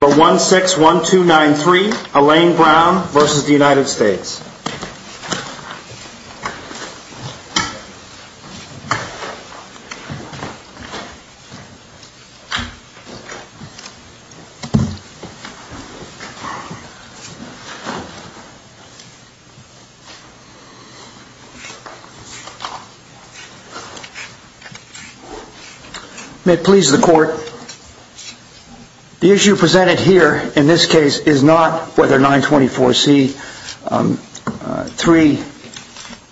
161293 Elaine Brown v. United States May it please the court, the issue presented here, in this case, is not whether 924C is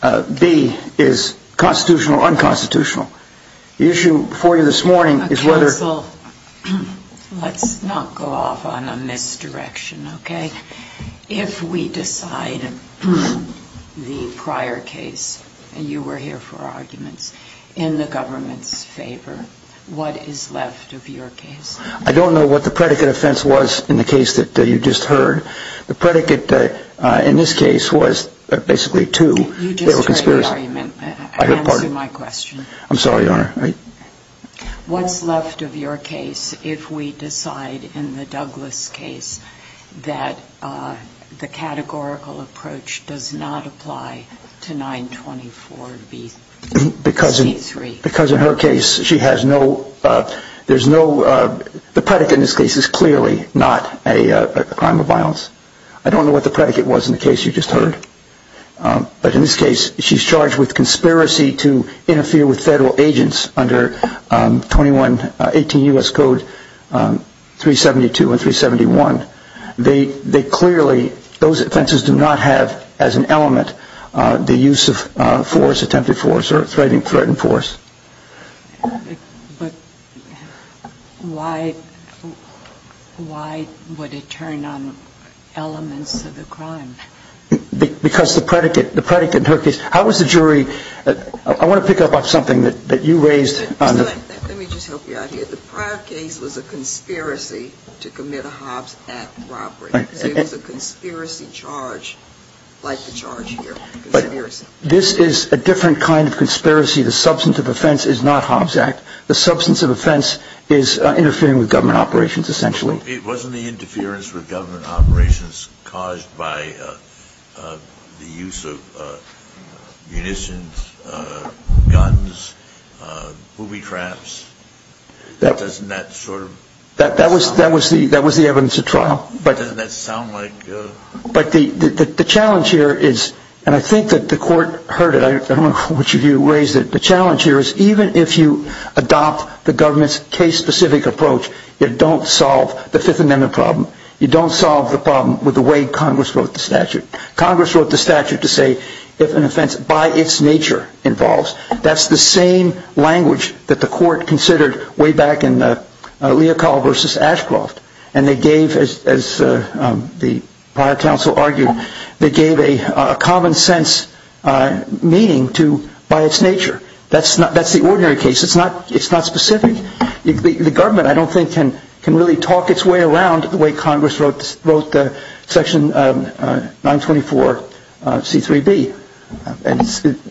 3B is constitutional or unconstitutional. The issue before you this morning is whether Counsel, let's not go off on a misdirection, okay? If we decide the prior case, and you were here for arguments, in the government's favor, what is left of your case? I don't know what the predicate offense was in the case that you just heard. The predicate in this case was basically two. You just heard the argument. Answer my question. I'm sorry, Your Honor. What's left of your case if we decide in the Douglas case that the categorical approach does not apply to 924C3? Because in her case, she has no, there's no, the predicate in this case is clearly not a crime of violence. I don't know what the predicate was in the case you just heard. But in this case, she's charged with conspiracy to interfere with federal agents under 2118 U.S. Code 372 and 371. They clearly, those offenses do not have, as an element, the use of force, attempted force, or threatened force. But why, why would it turn on elements of the crime? Because the predicate, the predicate in her case, how was the jury, I want to pick up on something that you raised. Let me just help you out here. The prior case was a conspiracy to commit a Hobbs Act robbery. So it was a conspiracy charge, like the charge here, conspiracy. This is a different kind of conspiracy. The substance of offense is not Hobbs Act. The substance of offense is interfering with government operations, essentially. It wasn't the interference with government operations caused by the use of munitions, guns, booby traps. Doesn't that sort of... That was the evidence at trial. Doesn't that sound like... But the challenge here is, and I think that the court heard it, I don't know which of you raised it, the challenge here is even if you adopt the government's case-specific approach, you don't solve the Fifth Amendment problem. You don't solve the problem with the way Congress wrote the statute. Congress wrote the statute to say if an offense by its nature involves, that's the same language that the court considered way back in the Leocall versus Ashcroft. And they gave, as the prior counsel argued, they gave a common sense meaning to by its nature. That's the ordinary case. It's not specific. The government, I don't think, can really talk its way around the way Congress wrote the section 924C3B.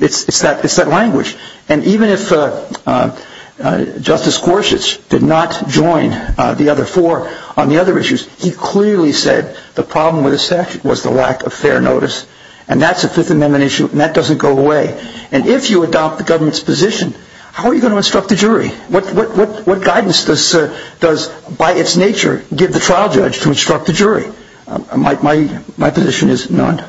It's that language. And even if Justice Gorsuch did not join the other four on the other issues, he clearly said the problem with the statute was the lack of fair notice. And that's a Fifth Amendment issue and that doesn't go away. And if you adopt the government's position, how are you going to instruct the jury? What guidance does, by its nature, give the trial judge to instruct the jury? My position is none.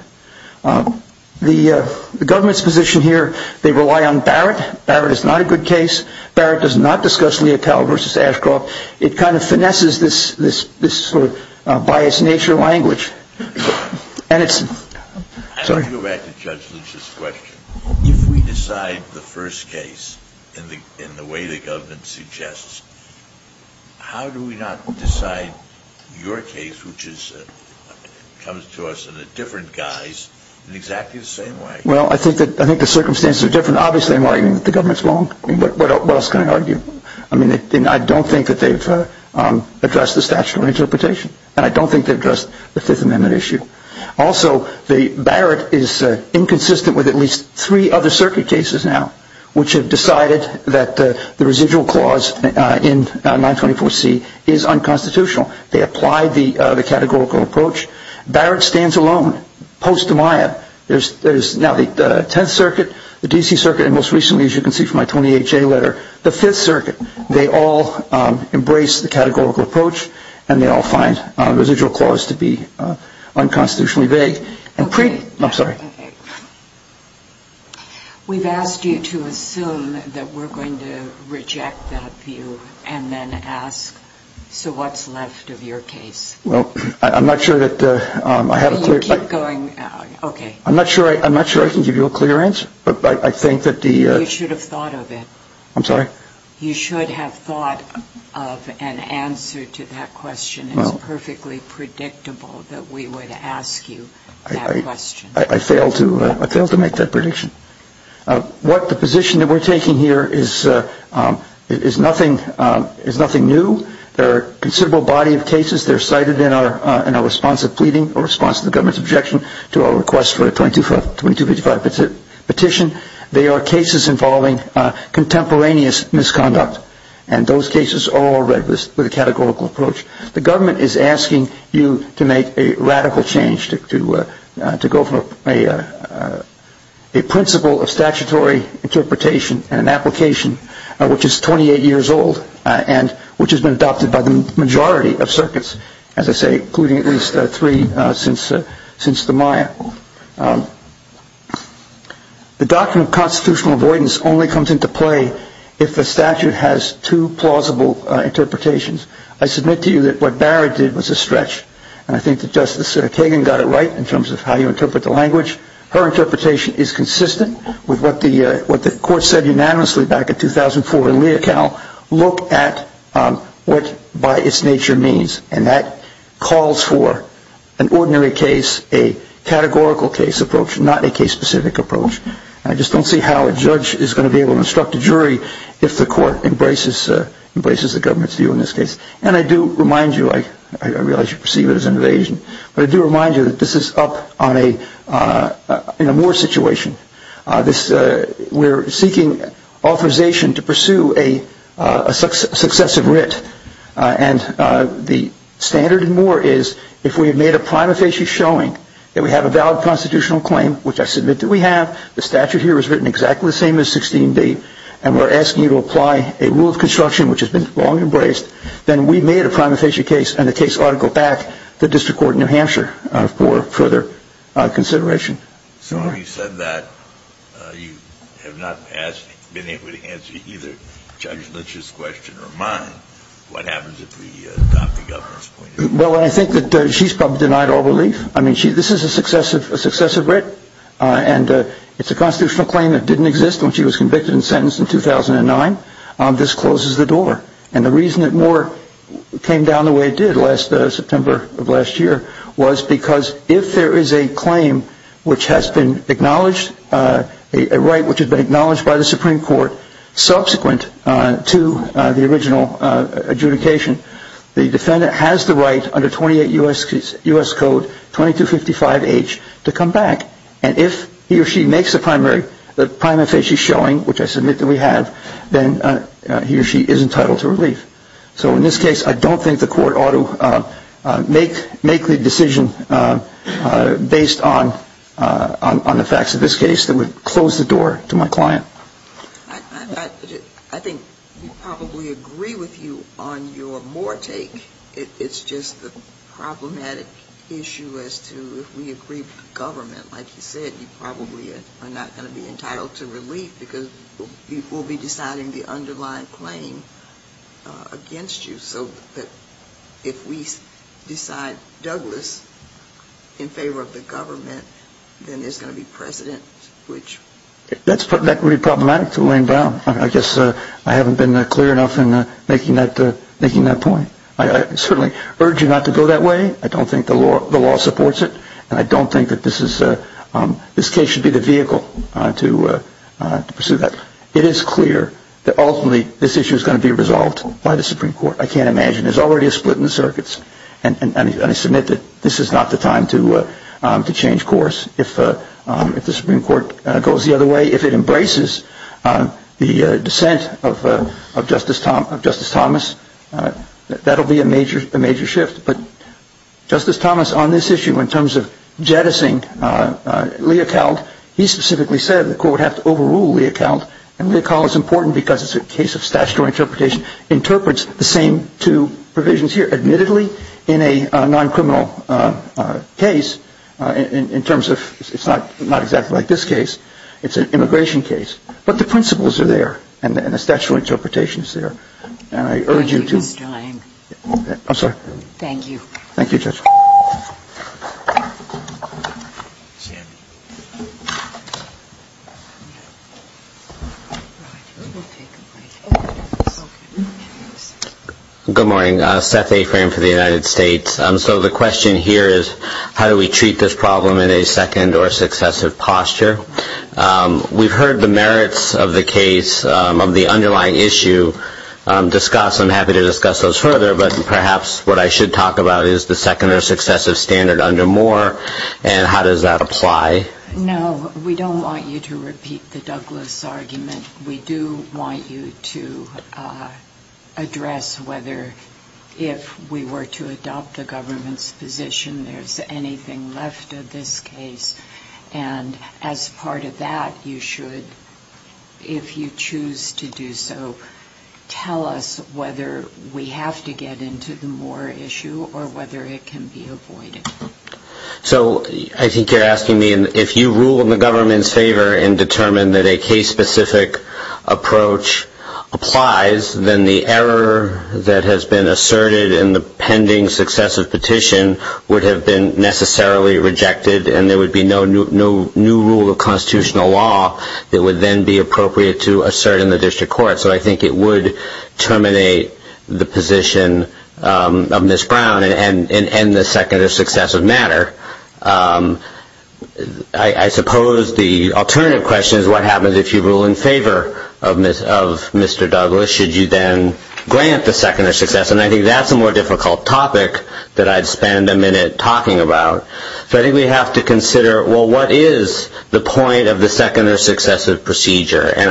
The government's position here, they rely on Barrett. Barrett is not a good case. Barrett does not discuss Leocall versus Ashcroft. It kind of finesses this sort of by its nature language. And it's, sorry. I want to go back to Judge Lynch's question. If we decide the first case in the way the government does it, it comes to us in a different guise in exactly the same way. Well, I think the circumstances are different. Obviously, I'm arguing that the government's wrong. What else can I argue? I mean, I don't think that they've addressed the statutory interpretation and I don't think they've addressed the Fifth Amendment issue. Also, Barrett is inconsistent with at least three other circuit cases now which have decided that the residual clause in 924C is unconstitutional. They applied the categorical approach. Barrett stands alone. Post-Demiah, there's now the Tenth Circuit, the D.C. Circuit, and most recently, as you can see from my Tony H.A. letter, the Fifth Circuit. They all embrace the categorical approach and they all find the residual clause to be unconstitutionally vague. We've asked you to assume that we're going to reject that view and then ask, so what's left of your case? I'm not sure I can give you a clear answer. You should have thought of it. You should have thought of an answer to that question. It's perfectly predictable that we would ask you that question. I failed to make that prediction. The position that we're taking here is nothing new. There are a considerable body of cases that are cited in our response to the government's objection to our request for a 2255 petition. They are cases involving contemporaneous misconduct and those cases are all read with a categorical approach. The government is asking you to make a radical change, to go for a principle of statutory interpretation and an application which is 28 years old and which has been adopted by the majority of circuits, as I say, including at least three since the Maya. The doctrine of constitutional avoidance only comes into play if the statute has two plausible interpretations. I submit to you that what Barrett did was a stretch and I think that Justice Kagan got it right in terms of how you interpret the language. Her interpretation is consistent with what the court said unanimously back in 2004 in Leocal. Look at what by its nature means and that calls for an ordinary case, a categorical case approach, not a case-specific approach. I just don't see how a judge is going to be able to instruct a jury if the government is to you in this case. And I do remind you, I realize you perceive it as an evasion, but I do remind you that this is up in a Moore situation. We're seeking authorization to pursue a successive writ and the standard in Moore is if we have made a prima facie showing that we have a valid constitutional claim, which I submit that we have, the statute here is written exactly the same as 16-D and we're asking you to apply a rule of construction which has been long embraced, then we've made a prima facie case and the case ought to go back to district court in New Hampshire for further consideration. So having said that, you have not been able to answer either Judge Lynch's question or mine. What happens if we adopt the government's point of view? Well, I think that she's probably denied all relief. I mean, this is a successive writ and it's a constitutional claim that didn't exist when she was convicted and sentenced in 2009. This closes the door. And the reason that Moore came down the way it did last September of last year was because if there is a claim which has been acknowledged, a writ which has been acknowledged by the Supreme Court subsequent to the original adjudication, the defendant has the right under 28 U.S. Code 2255H to come back. And if he or she makes a primary, the prima facie showing, which I submit that we have, then he or she is entitled to relief. So in this case, I don't think the court ought to make the decision based on the facts of this case that would close the door to my client. I think we probably agree with you on your Moore take. It's just the problematic issue as to if we agree with the government, like you said, you probably are not going to be entitled to relief because we'll be deciding the underlying claim against you. So if we decide Douglas in favor of the government, then there's going to be precedent which That's problematic to weigh down. I guess I haven't been clear enough in making that point. I certainly urge you not to go that way. I don't think the law supports it. And I don't think that this case should be the vehicle to pursue that. It is clear that ultimately this issue is going to be resolved by the Supreme Court. I can't imagine. There's already a split in the circuits. And I submit that this is not the time to change course if the Supreme Court goes the other way, if it embraces the dissent of Justice Thomas. That will be a major shift. But Justice Thomas on this issue in terms of jettisoning Leocald, he specifically said the court would have to overrule Leocald. And Leocald is important because it's a case of statutory interpretation, interprets the same two provisions here, admittedly, in a non-criminal case in terms of it's not exactly like this case. It's an immigration case. But the principles are there. And the statutory interpretation is there. And I urge you to I'm sorry. Thank you. Thank you, Judge. Good morning. Seth A. Fram for the United States. So the question here is how do we merits of the case, of the underlying issue, discuss, I'm happy to discuss those further, but perhaps what I should talk about is the second or successive standard under Moore and how does that apply? No. We don't want you to repeat the Douglas argument. We do want you to address whether if we were to adopt the government's position there's anything left of this case. And as part of that, you should, if you choose to do so, tell us whether we have to get into the Moore issue or whether it can be avoided. So I think you're asking me if you rule in the government's favor and determine that a case-specific approach applies, then the error that has been asserted in the pending successive petition would have been necessarily rejected and there would be no new rule of constitutional law that would then be appropriate to assert in the district court. So I think it would terminate the position of Ms. Brown and the second or successive matter. I suppose the alternative question is what happens if you rule in favor of Mr. Douglas? Should you then grant the second or successive? And I think that's a more difficult topic that I'd spend a minute talking about. So I think we have to consider, well, what is the point of the second or successive procedure? And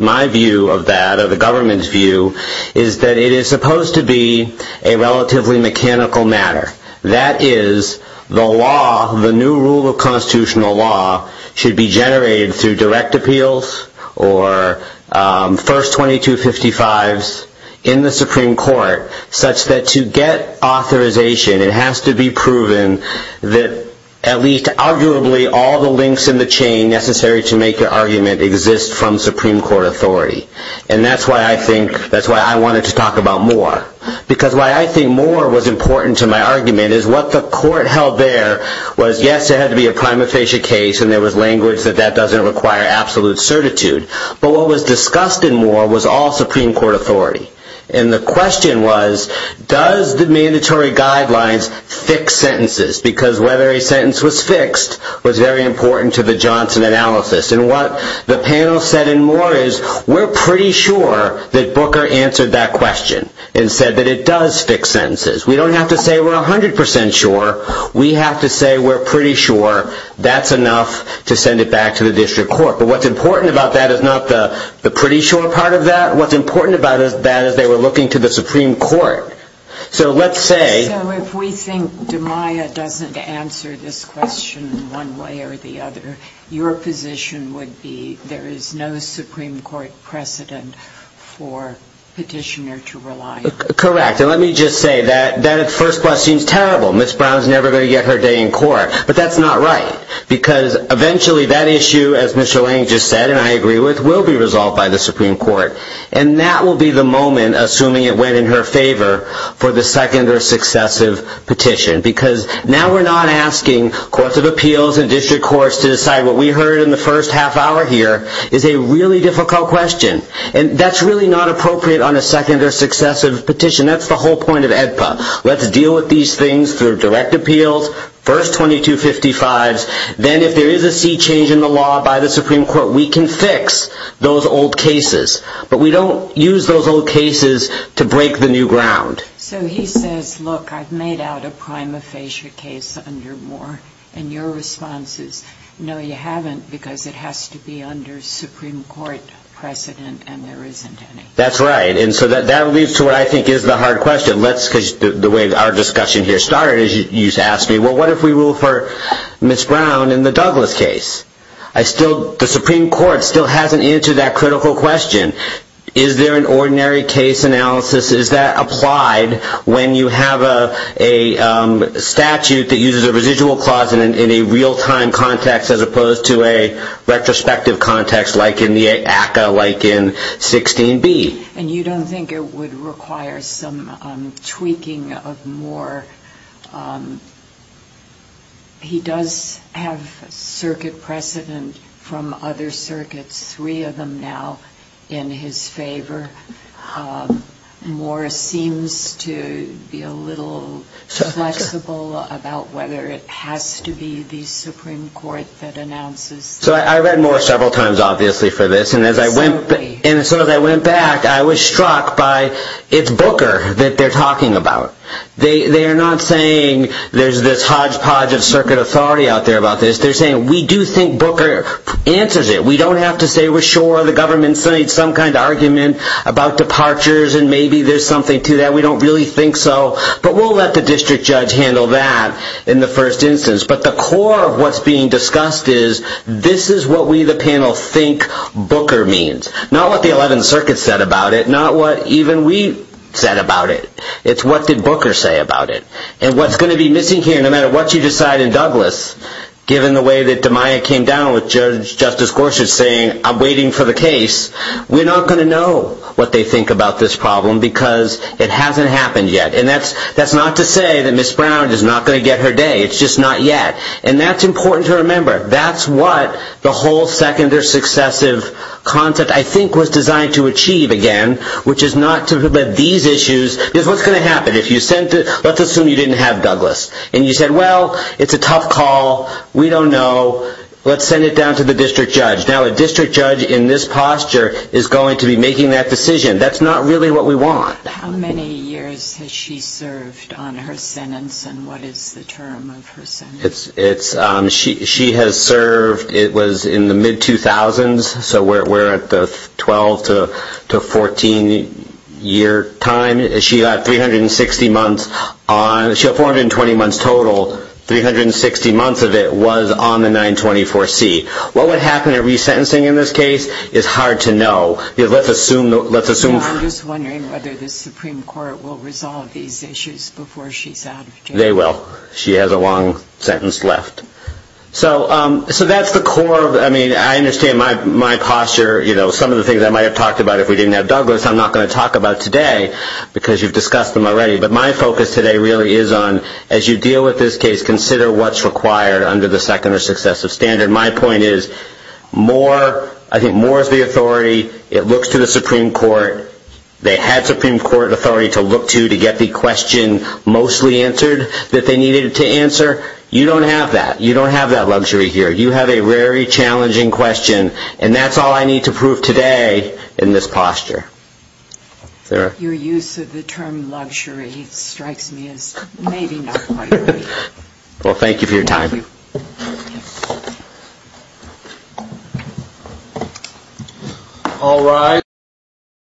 my view of that, or the government's view, is that it is supposed to be a relatively mechanical matter. That is, the law, the new rule of constitutional law, should be generated through direct appeals or first 2255s in the Supreme Court such that to get authorization it has to be proven that at least, arguably, all the links in the chain necessary to make the argument exist from Supreme Court authority. And that's why I think, that's why I wanted to talk about Moore. Because why I think Moore was important to my argument is what the court held there was, yes, it had to be a prima facie case and there was language that that doesn't require absolute certitude. But what was discussed in Moore was all Supreme Court authority. And the question was, does the mandatory guidelines fix sentences? Because whether a sentence was fixed was very important to the Johnson analysis. And what the panel said in Moore is, we're pretty sure that Booker answered that question and said that it does fix sentences. We don't have to say we're 100% sure. We have to say we're pretty sure that's enough to send it back to the district court. But what's important about that is not the pretty sure part of that. What's important about that is they were looking to the Supreme Court. So let's say... So if we think DiMaio doesn't answer this question one way or the other, your position would be there is no Supreme Court precedent for petitioner to rely on. Correct. And let me just say that that at first glance seems terrible. Ms. Brown's never going to get her day in court. But that's not right. Because eventually that issue, as Mr. Lang just said and I agree with, will be resolved by the Supreme Court. And that will be the moment, assuming it went in her favor, for the second or successive petition. Because now we're not asking courts of appeals and district courts to decide what we heard in the first half hour here is a really difficult question. And that's really not appropriate on a second or successive petition. That's the whole point of AEDPA. Let's deal with these things through direct appeals. First 2255s. Then if there is a sea change in the law by the Supreme Court, we can fix those old cases. But we don't use those old cases to break the new ground. So he says, look, I've made out a prima facie case under Moore. And your response is, no, you haven't, because it has to be under Supreme Court precedent and there isn't any. That's right. And so that leads to what I think the discussion here started. You asked me, well, what if we rule for Ms. Brown in the Douglas case? I still, the Supreme Court still hasn't answered that critical question. Is there an ordinary case analysis? Is that applied when you have a statute that uses a residual clause in a real-time context as opposed to a retrospective context like in the ACCA, like in 16B? And you don't think it would require some more. He does have circuit precedent from other circuits, three of them now in his favor. Moore seems to be a little flexible about whether it has to be the Supreme Court that announces. So I read Moore several times, obviously, for this. And as I went, and so as I went back, I was struck by, it's Booker that they're not saying there's this hodgepodge of circuit authority out there about this. They're saying, we do think Booker answers it. We don't have to say we're sure the government's made some kind of argument about departures and maybe there's something to that. We don't really think so. But we'll let the district judge handle that in the first instance. But the core of what's being discussed is, this is what we, the panel, think Booker means. Not what the 11th Circuit said about it, not what even we said about it. It's what did And what's going to be missing here, no matter what you decide in Douglas, given the way that DeMaia came down with Judge Justice Gorsuch saying, I'm waiting for the case, we're not going to know what they think about this problem because it hasn't happened yet. And that's not to say that Ms. Brown is not going to get her day. It's just not yet. And that's important to remember. That's what the whole second or successive concept, I think, was designed to achieve again, which is not to prevent these issues. Because what's you didn't have, Douglas? And you said, well, it's a tough call. We don't know. Let's send it down to the district judge. Now, a district judge in this posture is going to be making that decision. That's not really what we want. How many years has she served on her sentence and what is the term of her sentence? She has served, it was in the mid-2000s, so we're at the 12 to 14 year time. She got 360 months. She had 420 months total. 360 months of it was on the 924C. What would happen in resentencing in this case is hard to know. Let's assume... I'm just wondering whether the Supreme Court will resolve these issues before she's out of jail. They will. She has a long sentence left. So that's the core. I mean, I understand my posture. Some of the things I might have talked about if we didn't have Douglas, I'm not going to mention them already. But my focus today really is on, as you deal with this case, consider what's required under the second or successive standard. My point is, more, I think more is the authority. It looks to the Supreme Court. They had Supreme Court authority to look to to get the question mostly answered that they needed to answer. You don't have that. You don't have that luxury here. You have a very challenging question. And that's all I need to prove today in this posture. Your use of the term luxury strikes me as maybe not quite right. Well, thank you for your time.